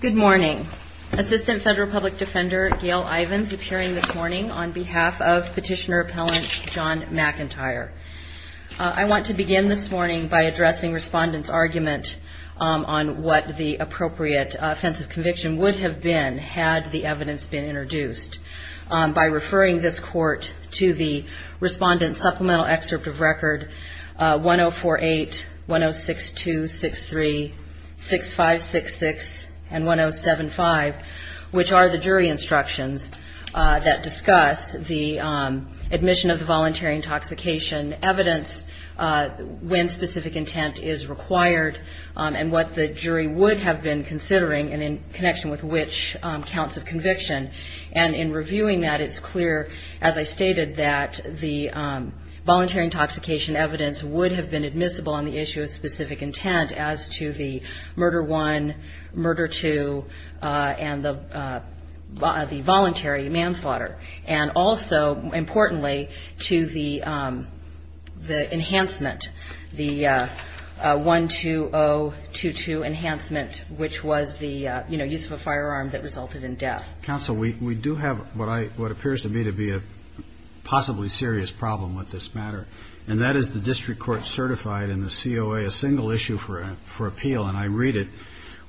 Good morning. Assistant Federal Public Defender Gail Ivins appearing this morning on behalf of Petitioner Appellant John McIntyre. I want to begin this morning by addressing Respondent's argument on what the appropriate offensive conviction would have been had the evidence been introduced. By referring this Court to the Respondent's Supplemental Excerpt of Record 1048, 106263, 6566, and 1075, which are the jury instructions that discuss the admission of the voluntary intoxication evidence when specific intent is required and what the jury would have been considering and in connection with which counts of conviction. And in reviewing that it's clear, as I stated, that the voluntary intoxication evidence would have been admissible on the issue of specific intent as to the murder one, murder two, and the voluntary manslaughter. And also, importantly, to the enhancement, the 12022 enhancement, which was the, you know, use of a firearm that resulted in death. Counsel, we do have what I, what appears to me to be a possibly serious problem with this matter, and that is the district court certified in the COA a single issue for appeal. And I read it,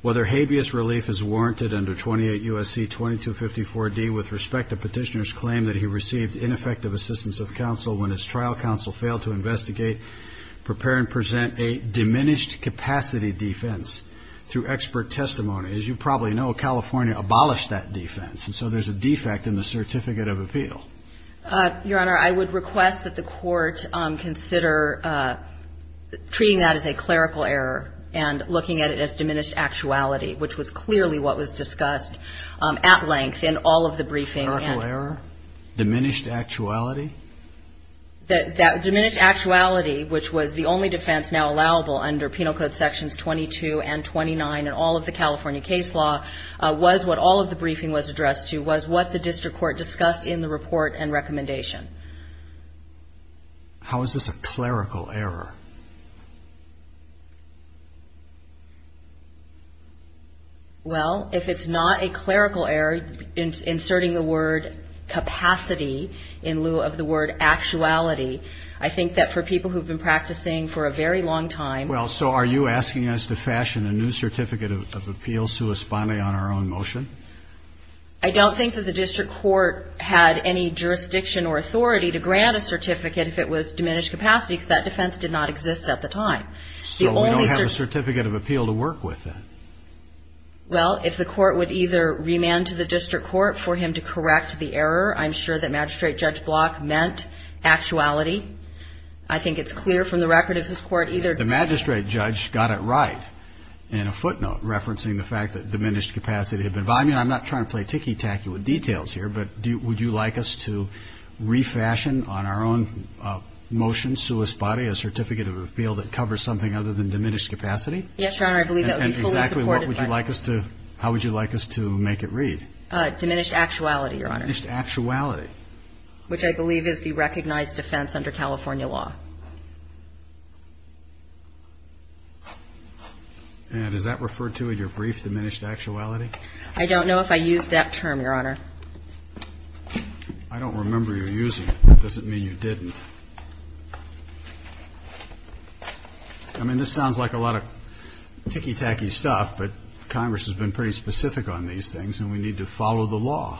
whether habeas relief is warranted under 28 U.S.C. 2254d with respect to Petitioner's claim that he received ineffective assistance of counsel when his trial counsel failed to investigate, prepare, and present a diminished capacity defense through expert testimony. As you probably know, California abolished that defense, and so there's a defect in the Certificate of Appeal. Your Honor, I would request that the court consider treating that as a clerical error and looking at it as diminished actuality, which was clearly what was discussed at length in all of the briefing. Clerical error? Diminished actuality? That diminished actuality, which was the only defense now allowable under Penal Code Sections 22 and 29 in all of the California case law, was what all of the briefing was addressed to, was what the district court discussed in the report and recommendation. How is this a clerical error? Well, if it's not a clerical error, inserting the word capacity in lieu of the word actuality, I think that for people who have been practicing for a very long time Well, so are you asking us to fashion a new Certificate of Appeal sui spanae on our own motion? I don't think that the district court had any jurisdiction or authority to grant a certificate if it was diminished capacity, because that defense did not exist. So we don't have a Certificate of Appeal to work with then? Well, if the court would either remand to the district court for him to correct the error, I'm sure that Magistrate Judge Block meant actuality. I think it's clear from the record if this court either The magistrate judge got it right in a footnote referencing the fact that diminished capacity had been violated. I'm not trying to play ticky-tacky with details here, but would you like us to refashion on our own motion, sui spanae, a Certificate of Appeal that covers something other than diminished capacity? Yes, Your Honor, I believe that would be fully supported by And exactly what would you like us to, how would you like us to make it read? Diminished actuality, Your Honor. Diminished actuality. Which I believe is the recognized defense under California law. And is that referred to in your brief, diminished actuality? I don't know if I used that term, Your Honor. I don't remember you using it. That doesn't mean you didn't. I mean, this sounds like a lot of ticky-tacky stuff, but Congress has been pretty specific on these things, and we need to follow the law.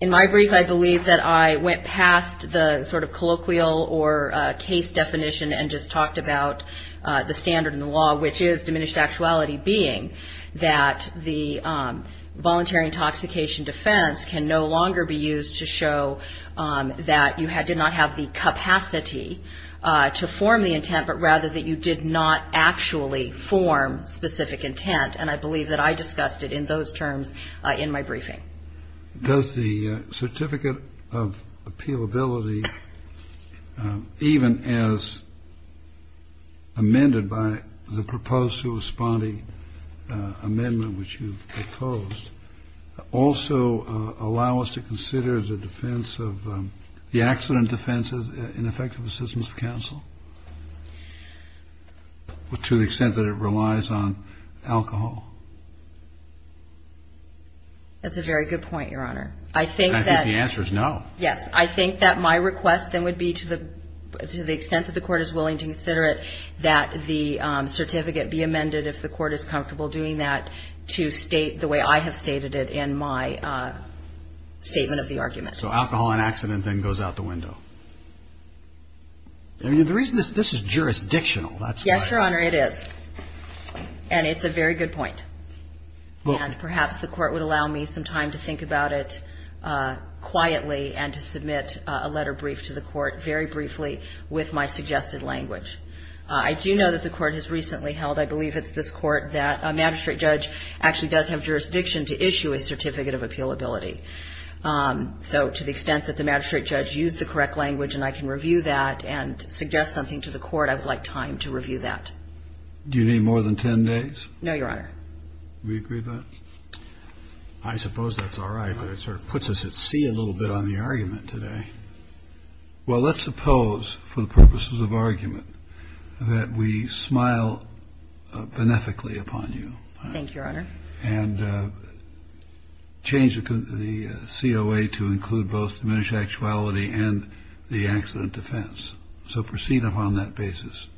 In my brief, I believe that I went past the sort of colloquial or case definition and just talked about the standard in the law, which is diminished actuality being that the voluntary intoxication defense can no longer be used to show that you did not have the capacity to form the intent, but rather that you did not actually form specific intent. And I believe that I discussed it in those terms in my briefing. Does the Certificate of Appealability, even as amended by the proposed corresponding amendment which you proposed, also allow us to consider the defense of the accident defense as ineffective assistance of counsel to the extent that it relies on alcohol? That's a very good point, Your Honor. And I think the answer is no. Yes, I think that my request then would be to the extent that the Court is willing to consider it, that the certificate be amended, if the Court is comfortable doing that, to state the way I have stated it in my statement of the argument. So alcohol and accident then goes out the window. I mean, the reason this is jurisdictional, that's why. Yes, Your Honor, it is. And it's a very good point. And perhaps the Court would allow me some time to think about it quietly and to submit a letter brief to the Court very briefly with my suggested language. I do know that the Court has recently held, I believe it's this Court, that a magistrate judge actually does have jurisdiction to issue a Certificate of Appealability. So to the extent that the magistrate judge used the correct language and I can review that and suggest something to the Court, I would like time to review that. Do you need more than 10 days? No, Your Honor. Do we agree to that? I suppose that's all right, but it sort of puts us at sea a little bit on the argument today. Well, let's suppose for the purposes of argument that we smile beneficially upon you. Thank you, Your Honor. And change the COA to include both diminished actuality and the accident defense. So proceed upon that basis.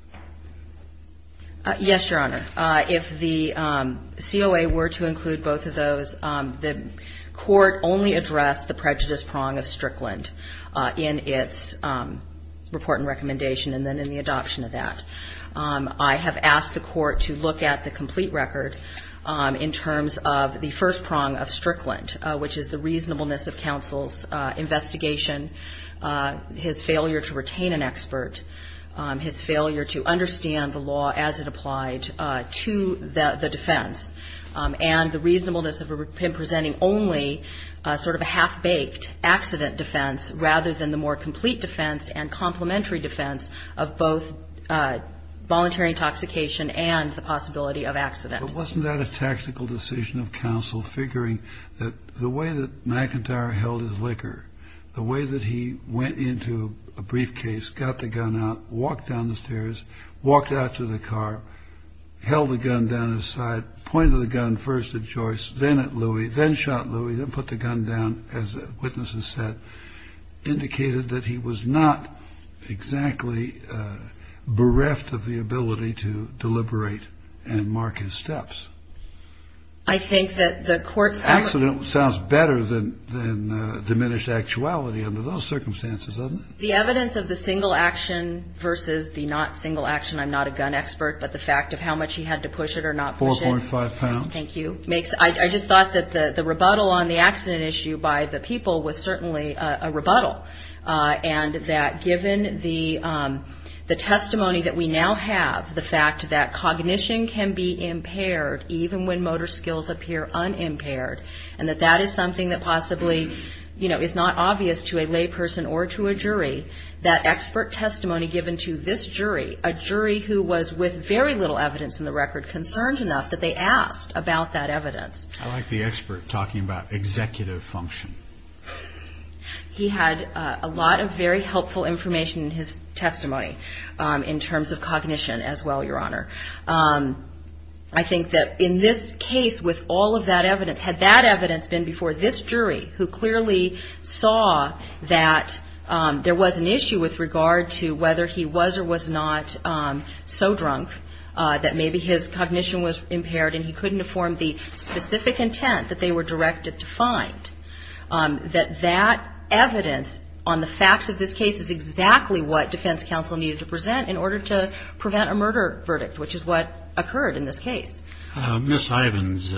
Yes, Your Honor. If the COA were to include both of those, the Court only addressed the prejudice prong of Strickland in its report and recommendation and then in the adoption of that. I have asked the Court to look at the complete record in terms of the first prong of Strickland, which is the reasonableness of counsel's investigation, his failure to retain an expert, his failure to understand the law as it applied to the defense, and the reasonableness of him presenting only sort of a half-baked accident defense rather than the more complete defense and complementary defense of both voluntary intoxication and the possibility of accident. But wasn't that a tactical decision of counsel, figuring that the way that McIntyre held his liquor, the way that he went into a briefcase, got the gun out, walked down the stairs, walked out to the car, held the gun down his side, pointed the gun first at Joyce, then at Louie, then shot Louie, then put the gun down, as witnesses said, indicated that he was not exactly bereft of the ability to deliberate and mark his steps? I think that the Court's... Accident sounds better than diminished actuality under those circumstances, doesn't it? The evidence of the single action versus the not single action, I'm not a gun expert, but the fact of how much he had to push it or not push it... 4.5 pounds. Thank you. I just thought that the rebuttal on the accident issue by the people was certainly a rebuttal, and that given the testimony that we now have, the fact that cognition can be impaired even when motor skills appear unimpaired, and that that is something that possibly is not obvious to a lay person or to a jury, that expert testimony given to this jury, a jury who was with very little evidence in the record, concerned enough that they asked about that evidence... I like the expert talking about executive function. He had a lot of very helpful information in his testimony in terms of cognition as well, Your Honor. I think that in this case, with all of that evidence, had that evidence been before this jury who clearly saw that there was an issue with regard to whether he was or was not so drunk that maybe his cognition was impaired and he couldn't have formed the specific intent that they were directed to find, that that evidence on the facts of this case is exactly what defense counsel needed to present in order to prevent a murder verdict, which is what occurred in this case. Ms. Ivins,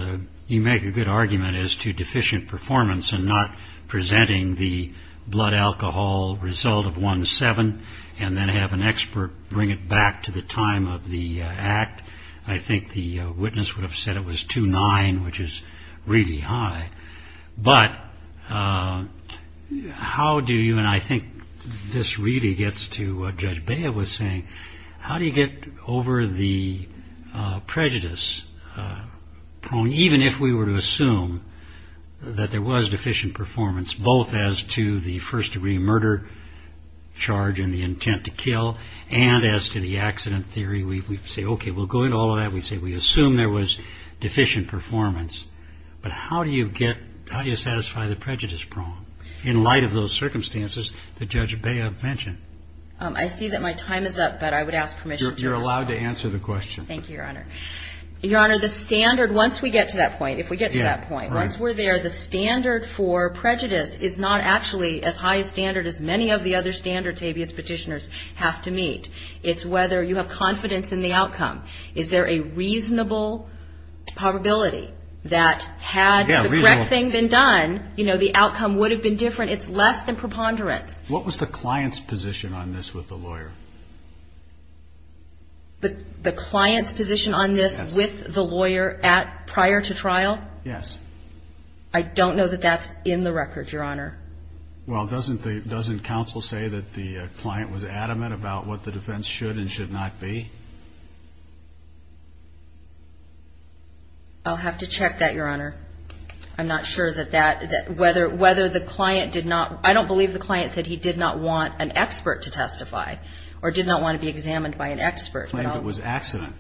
you make a good argument as to deficient performance and not presenting the blood alcohol result of 1-7 and then have an expert bring it back to the time of the act. I think the witness would have said it was 2-9, which is really high. But how do you, and I think this really gets to what Judge Bea was saying, how do you get over the prejudice, even if we were to assume that there was deficient performance, both as to the first-degree murder charge and the intent to kill and as to the accident theory, we say okay, we'll go into all of that, we assume there was deficient performance, but how do you satisfy the prejudice problem in light of those circumstances that Judge Bea mentioned? I see that my time is up, but I would ask permission to respond. You're allowed to answer the question. Thank you, Your Honor. Your Honor, the standard, once we get to that point, if we get to that point, once we're there, the standard for prejudice is not actually as high a standard as many of the other standards habeas petitioners have to meet. It's whether you have confidence in the outcome. Is there a reasonable probability that had the correct thing been done, the outcome would have been different? It's less than preponderance. What was the client's position on this with the lawyer? The client's position on this with the lawyer prior to trial? Yes. I don't know that that's in the record, Your Honor. Well, doesn't counsel say that the client was adamant about what the defense should and should not be? I'll have to check that, Your Honor. I'm not sure that that, whether the client did not, I don't believe the client said he did not want an expert to testify or did not want to be examined by an expert. He claimed it was accident.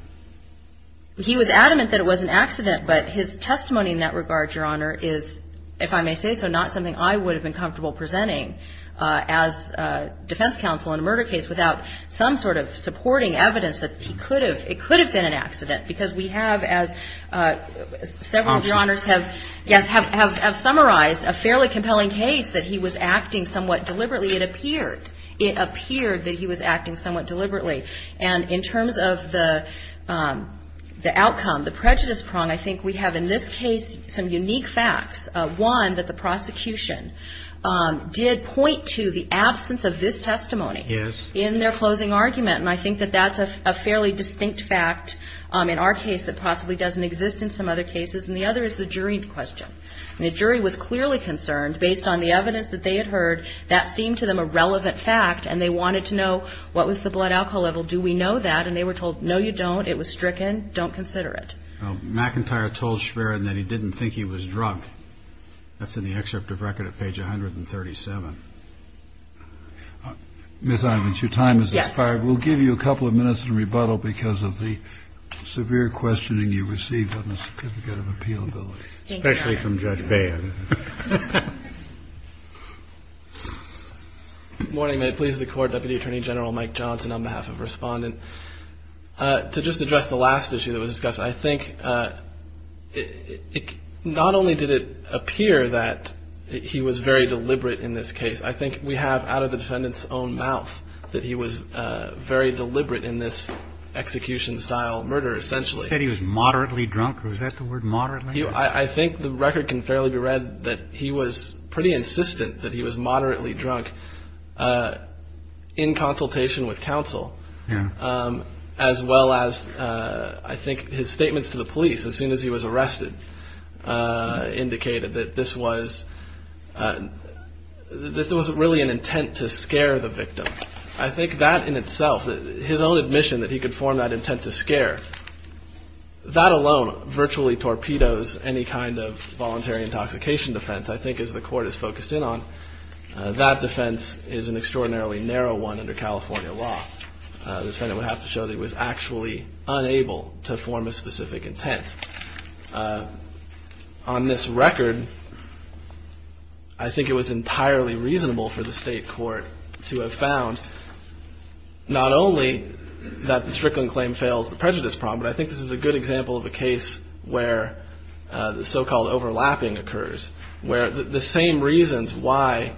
He was adamant that it was an accident, but his testimony in that regard, Your Honor, is, if I may say so, not something I would have been comfortable presenting as defense counsel in a murder case without some sort of supporting evidence that it could have been an accident because we have, as several of Your Honors have summarized, a fairly compelling case that he was acting somewhat deliberately, it appeared. It appeared that he was acting somewhat deliberately. And in terms of the outcome, the prejudice prong, I think we have in this case some unique facts. One, that the prosecution did point to the absence of this testimony. Yes. In their closing argument. And I think that that's a fairly distinct fact in our case that possibly doesn't exist in some other cases. And the other is the jury's question. And the jury was clearly concerned, based on the evidence that they had heard, that seemed to them a relevant fact and they wanted to know what was the blood alcohol level. Do we know that? And they were told, no, you don't. It was stricken. Don't consider it. McIntyre told Schwerin that he didn't think he was drunk. That's in the excerpt of record at page 137. Ms. Ivins, your time has expired. Yes. We'll give you a couple of minutes to rebuttal because of the severe questioning you received on the certificate of appealability. Thank you. Especially from Judge Bayen. Morning. May it please the Court. Deputy Attorney General Mike Johnson on behalf of Respondent. To just address the last issue that was discussed, I think not only did it appear that he was very deliberate in this case, I think we have out of the defendant's own mouth that he was very deliberate in this execution-style murder, essentially. He said he was moderately drunk. Was that the word, moderately? I think the record can fairly be read that he was pretty insistent that he was moderately drunk in consultation with counsel. Yeah. As well as I think his statements to the police as soon as he was arrested indicated that this was really an intent to scare the victim. I think that in itself, his own admission that he could form that intent to scare, that alone virtually torpedoes any kind of voluntary intoxication defense. I think as the Court has focused in on, that defense is an extraordinarily narrow one under California law. The defendant would have to show that he was actually unable to form a specific intent. On this record, I think it was entirely reasonable for the state court to have found not only that the Strickland claim fails the prejudice problem, but I think this is a good example of a case where the so-called overlapping occurs, where the same reasons why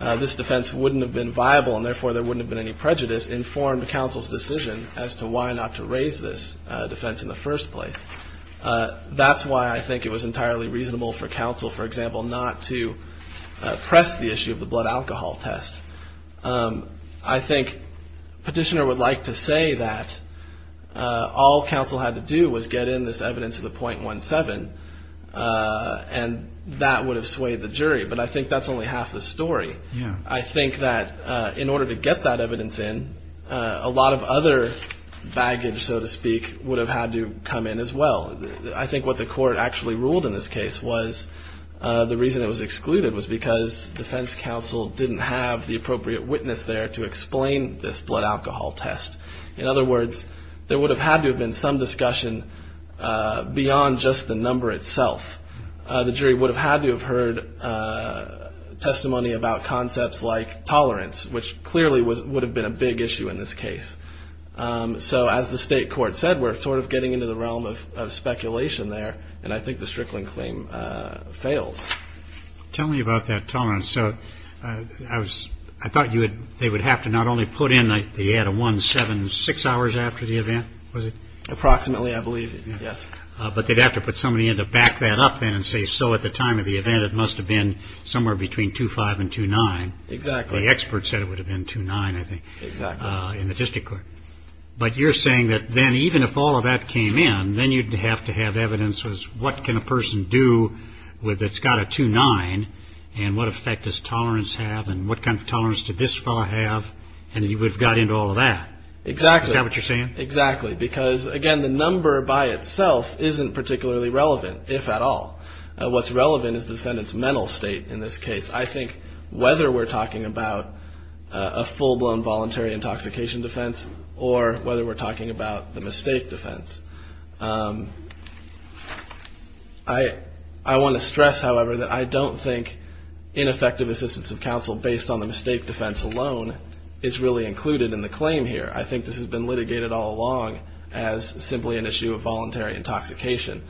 this defense wouldn't have been viable and therefore there wouldn't have been any prejudice informed counsel's decision as to why not to raise this defense in the first place. That's why I think it was entirely reasonable for counsel, for example, not to press the issue of the blood alcohol test. I think Petitioner would like to say that all counsel had to do was get in this evidence of the .17 and that would have swayed the jury, but I think that's only half the story. I think that in order to get that evidence in, a lot of other baggage, so to speak, would have had to come in as well. I think what the court actually ruled in this case was the reason it was excluded was because defense counsel didn't have the appropriate witness there to explain this blood alcohol test. In other words, there would have had to have been some discussion beyond just the number itself. The jury would have had to have heard testimony about concepts like tolerance, which clearly would have been a big issue in this case. So as the state court said, we're sort of getting into the realm of speculation there, and I think the Strickling claim fails. Tell me about that tolerance. So I thought they would have to not only put in that you had a 176 hours after the event, was it? Approximately, I believe, yes. But they'd have to put somebody in to back that up then and say, so at the time of the event, it must have been somewhere between 2-5 and 2-9. Exactly. Well, the expert said it would have been 2-9, I think. Exactly. In the district court. But you're saying that then even if all of that came in, then you'd have to have evidence as what can a person do that's got a 2-9, and what effect does tolerance have, and what kind of tolerance did this fellow have, and you would have got into all of that. Exactly. Is that what you're saying? Exactly, because, again, the number by itself isn't particularly relevant, if at all. What's relevant is the defendant's mental state in this case. I think whether we're talking about a full-blown voluntary intoxication defense or whether we're talking about the mistake defense, I want to stress, however, that I don't think ineffective assistance of counsel based on the mistake defense alone is really included in the claim here. I think this has been litigated all along as simply an issue of voluntary intoxication.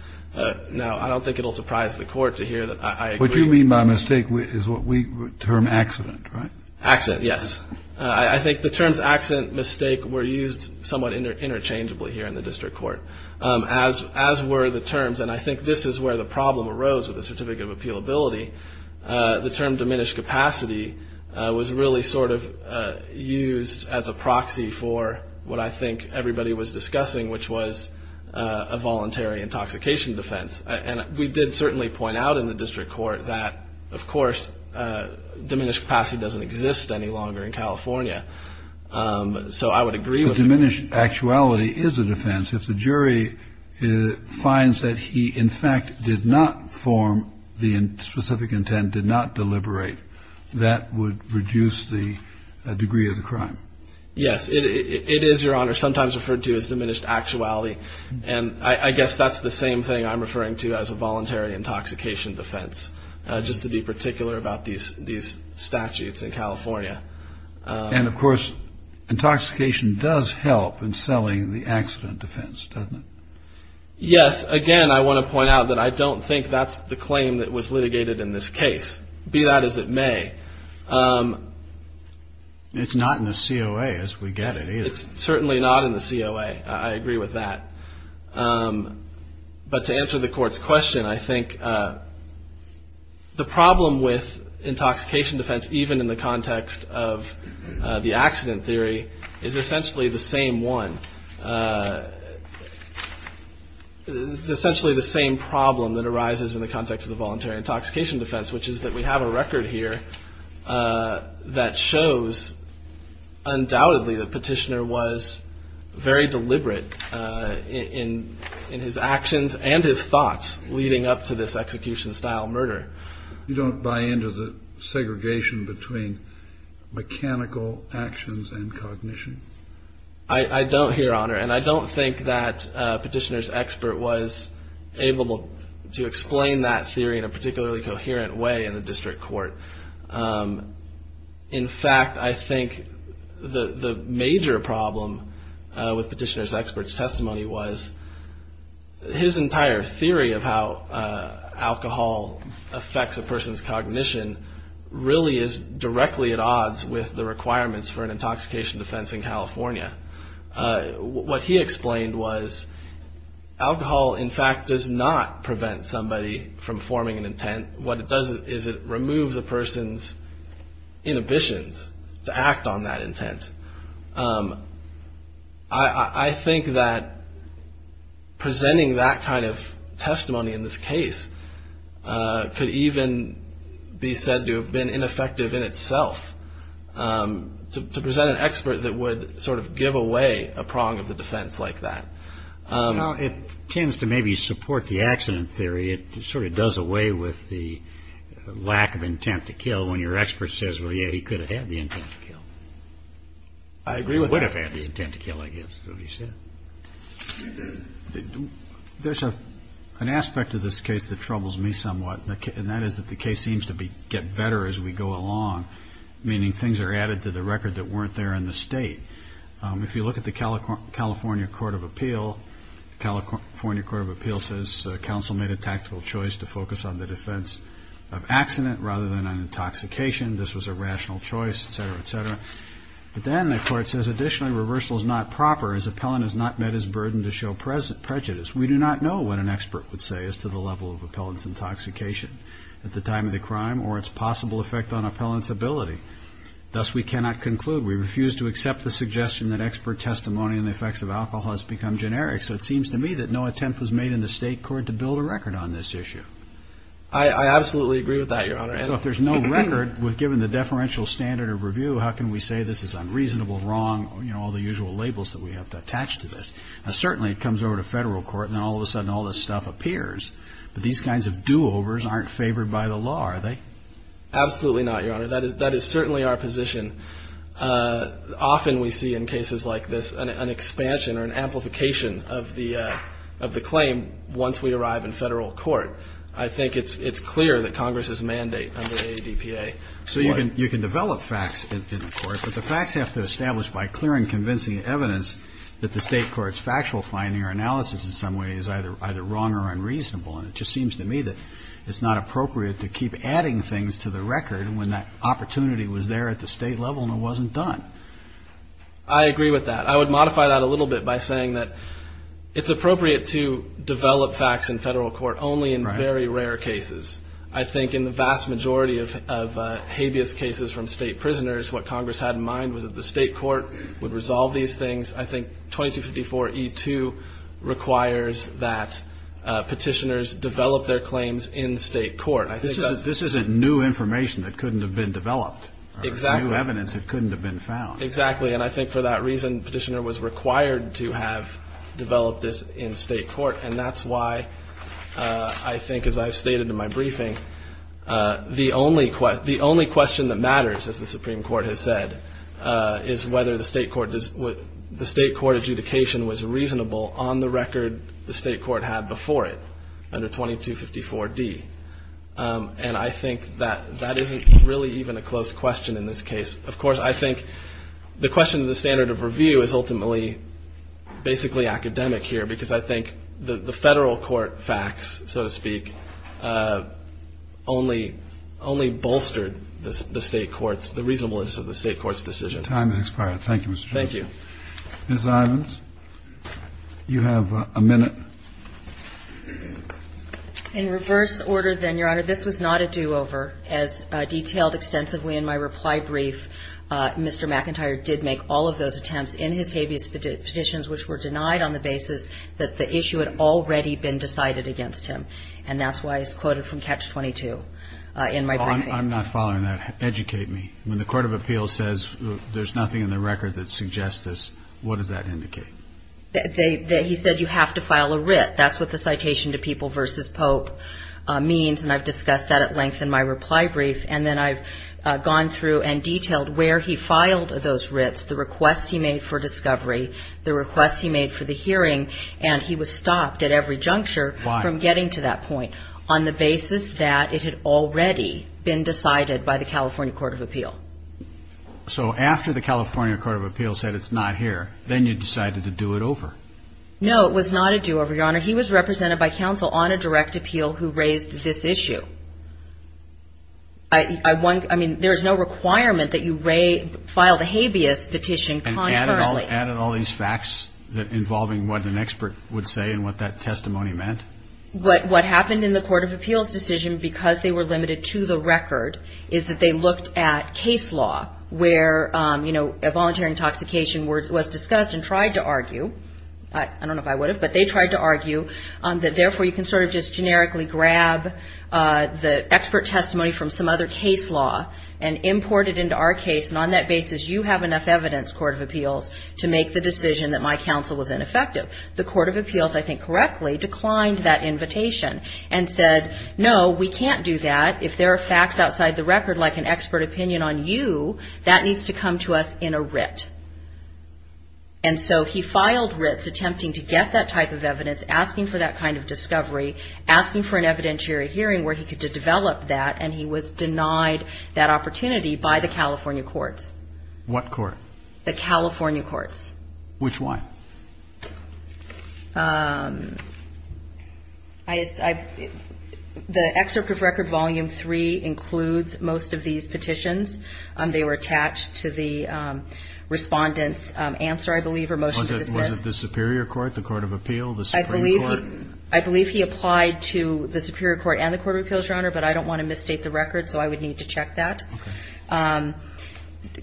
Now, I don't think it will surprise the court to hear that I agree. What you mean by mistake is what we term accident, right? Accident, yes. I think the terms accident, mistake were used somewhat interchangeably here in the district court, as were the terms, and I think this is where the problem arose with the certificate of appealability. The term diminished capacity was really sort of used as a proxy for what I think everybody was discussing, which was a voluntary intoxication defense. And we did certainly point out in the district court that, of course, diminished capacity doesn't exist any longer in California. So I would agree with it. Diminished actuality is a defense. If the jury finds that he, in fact, did not form the specific intent, did not deliberate, that would reduce the degree of the crime. Yes, it is, Your Honor, sometimes referred to as diminished actuality. And I guess that's the same thing I'm referring to as a voluntary intoxication defense, just to be particular about these statutes in California. And, of course, intoxication does help in selling the accident defense, doesn't it? Yes. Again, I want to point out that I don't think that's the claim that was litigated in this case, be that as it may. It's not in the COA, as we get it, either. It's certainly not in the COA. I agree with that. But to answer the court's question, I think the problem with intoxication defense, even in the context of the accident theory, is essentially the same one. It's essentially the same problem that arises in the context of the voluntary intoxication defense, which is that we have a record here that shows, undoubtedly, that Petitioner was very deliberate in his actions and his thoughts leading up to this execution-style murder. You don't buy into the segregation between mechanical actions and cognition? I don't here, Honor. And I don't think that Petitioner's expert was able to explain that theory in a particularly coherent way in the district court. In fact, I think the major problem with Petitioner's expert's testimony was his entire theory of how alcohol affects a person's What he explained was alcohol, in fact, does not prevent somebody from forming an intent. What it does is it removes a person's inhibitions to act on that intent. I think that presenting that kind of testimony in this case could even be said to have been ineffective in itself. To present an expert that would sort of give away a prong of the defense like that. You know, it tends to maybe support the accident theory. It sort of does away with the lack of intent to kill when your expert says, well, yeah, he could have had the intent to kill. I agree with that. Would have had the intent to kill, I guess, is what he said. There's an aspect of this case that troubles me somewhat. And that is that the case seems to get better as we go along, meaning things are added to the record that weren't there in the state. If you look at the California Court of Appeal, California Court of Appeal says council made a tactical choice to focus on the defense of accident rather than an intoxication. This was a rational choice, et cetera, et cetera. But then the court says, additionally, reversal is not proper as appellant has not met his burden to show prejudice. We do not know what an expert would say as to the level of appellant's intoxication at the time of the crime or its possible effect on appellant's ability. Thus, we cannot conclude. We refuse to accept the suggestion that expert testimony on the effects of alcohol has become generic. So it seems to me that no attempt was made in the state court to build a record on this issue. I absolutely agree with that, Your Honor. So if there's no record, given the deferential standard of review, how can we say this is unreasonable, wrong, you know, all the usual labels that we have to attach to this? Certainly it comes over to federal court and all of a sudden all this stuff appears. But these kinds of do-overs aren't favored by the law, are they? Absolutely not, Your Honor. That is certainly our position. Often we see in cases like this an expansion or an amplification of the claim once we arrive in federal court. I think it's clear that Congress's mandate under the ADPA. So you can develop facts in the court, but the facts have to be established by clear and convincing evidence that the state court's factual finding or analysis in some way is either wrong or unreasonable. And it just seems to me that it's not appropriate to keep adding things to the record when that opportunity was there at the state level and it wasn't done. I agree with that. I would modify that a little bit by saying that it's appropriate to develop facts in federal court only in very rare cases. I think in the vast majority of habeas cases from state prisoners, what Congress had in mind was that the state court would resolve these things. I think 2254E2 requires that petitioners develop their claims in state court. This isn't new information that couldn't have been developed or new evidence that couldn't have been found. Exactly. And I think for that reason, petitioner was required to have developed this in state court. And that's why I think, as I've stated in my briefing, the only question that matters, as the Supreme Court has said, is whether the state court adjudication was reasonable on the record the state court had before it under 2254D. And I think that that isn't really even a close question in this case. Of course, I think the question of the standard of review is ultimately basically academic here, because I think the federal court facts, so to speak, only bolstered the state court's, the reasonableness of the state court's decision. Time has expired. Thank you, Mr. Chairman. Thank you. Ms. Ivins, you have a minute. In reverse order, then, Your Honor, this was not a do-over. As detailed extensively in my reply brief, Mr. McIntyre did make all of those attempts in his habeas petitions, which were denied on the basis that the issue had already been decided against him. And that's why it's quoted from Catch-22 in my briefing. I'm not following that. Educate me. When the court of appeals says there's nothing in the record that suggests this, what does that indicate? He said you have to file a writ. That's what the citation to People v. Pope means, and I've discussed that at length in my reply brief. And then I've gone through and detailed where he filed those writs, the requests he made for discovery, the requests he made for the hearing, and he was stopped at every juncture from getting to that point. Why? On the basis that it had already been decided by the California Court of Appeal. So after the California Court of Appeal said it's not here, then you decided to do it over. No, it was not a do-over, Your Honor. He was represented by counsel on a direct appeal who raised this issue. I mean, there's no requirement that you file the habeas petition concurrently. And added all these facts involving what an expert would say and what that testimony meant? What happened in the court of appeals decision, because they were limited to the record, is that they looked at case law where, you know, a voluntary intoxication was discussed and tried to argue. I don't know if I would have, but they tried to argue that, therefore, you can sort of just generically grab the expert testimony from some other case law and import it into our case. And on that basis, you have enough evidence, court of appeals, to make the decision that my counsel was ineffective. The court of appeals, I think correctly, declined that invitation and said, no, we can't do that. If there are facts outside the record, like an expert opinion on you, that needs to come to us in a writ. And so he filed writs attempting to get that type of evidence, asking for that kind of discovery, asking for an evidentiary hearing where he could develop that, and he was denied that opportunity by the California courts. What court? The California courts. Which one? The excerpt of record volume three includes most of these petitions. They were attached to the Respondent's answer, I believe, or motion to dismiss. Was it the superior court, the court of appeal, the supreme court? I believe he applied to the superior court and the court of appeals, Your Honor, but I don't want to misstate the record, so I would need to check that. Okay.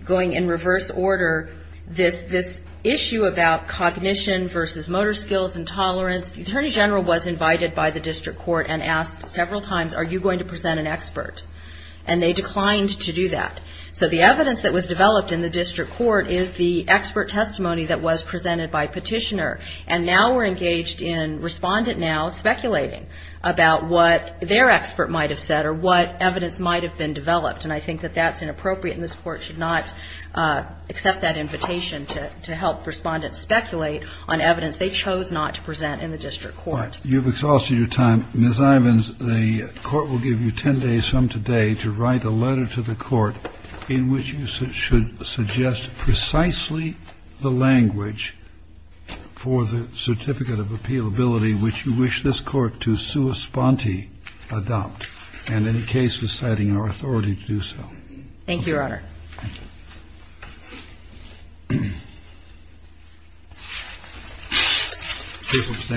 Going in reverse order, this issue about cognition versus motor skills and tolerance, the attorney general was invited by the district court and asked several times, are you going to present an expert? And they declined to do that. So the evidence that was developed in the district court is the expert testimony that was presented by petitioner, and now we're engaged in Respondent now speculating about what their expert might have said or what evidence might have been developed, and I think that that's inappropriate and this Court should not accept that invitation to help Respondent speculate on evidence they chose not to present in the district court. All right. You've exhausted your time. Ms. Ivins, the Court will give you 10 days from today to write a letter to the Court in which you should suggest precisely the language for the certificate of appealability which you wish this Court to sua sponte adopt, and any case reciting our authority to do so. Thank you, Your Honor.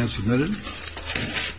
Thank you.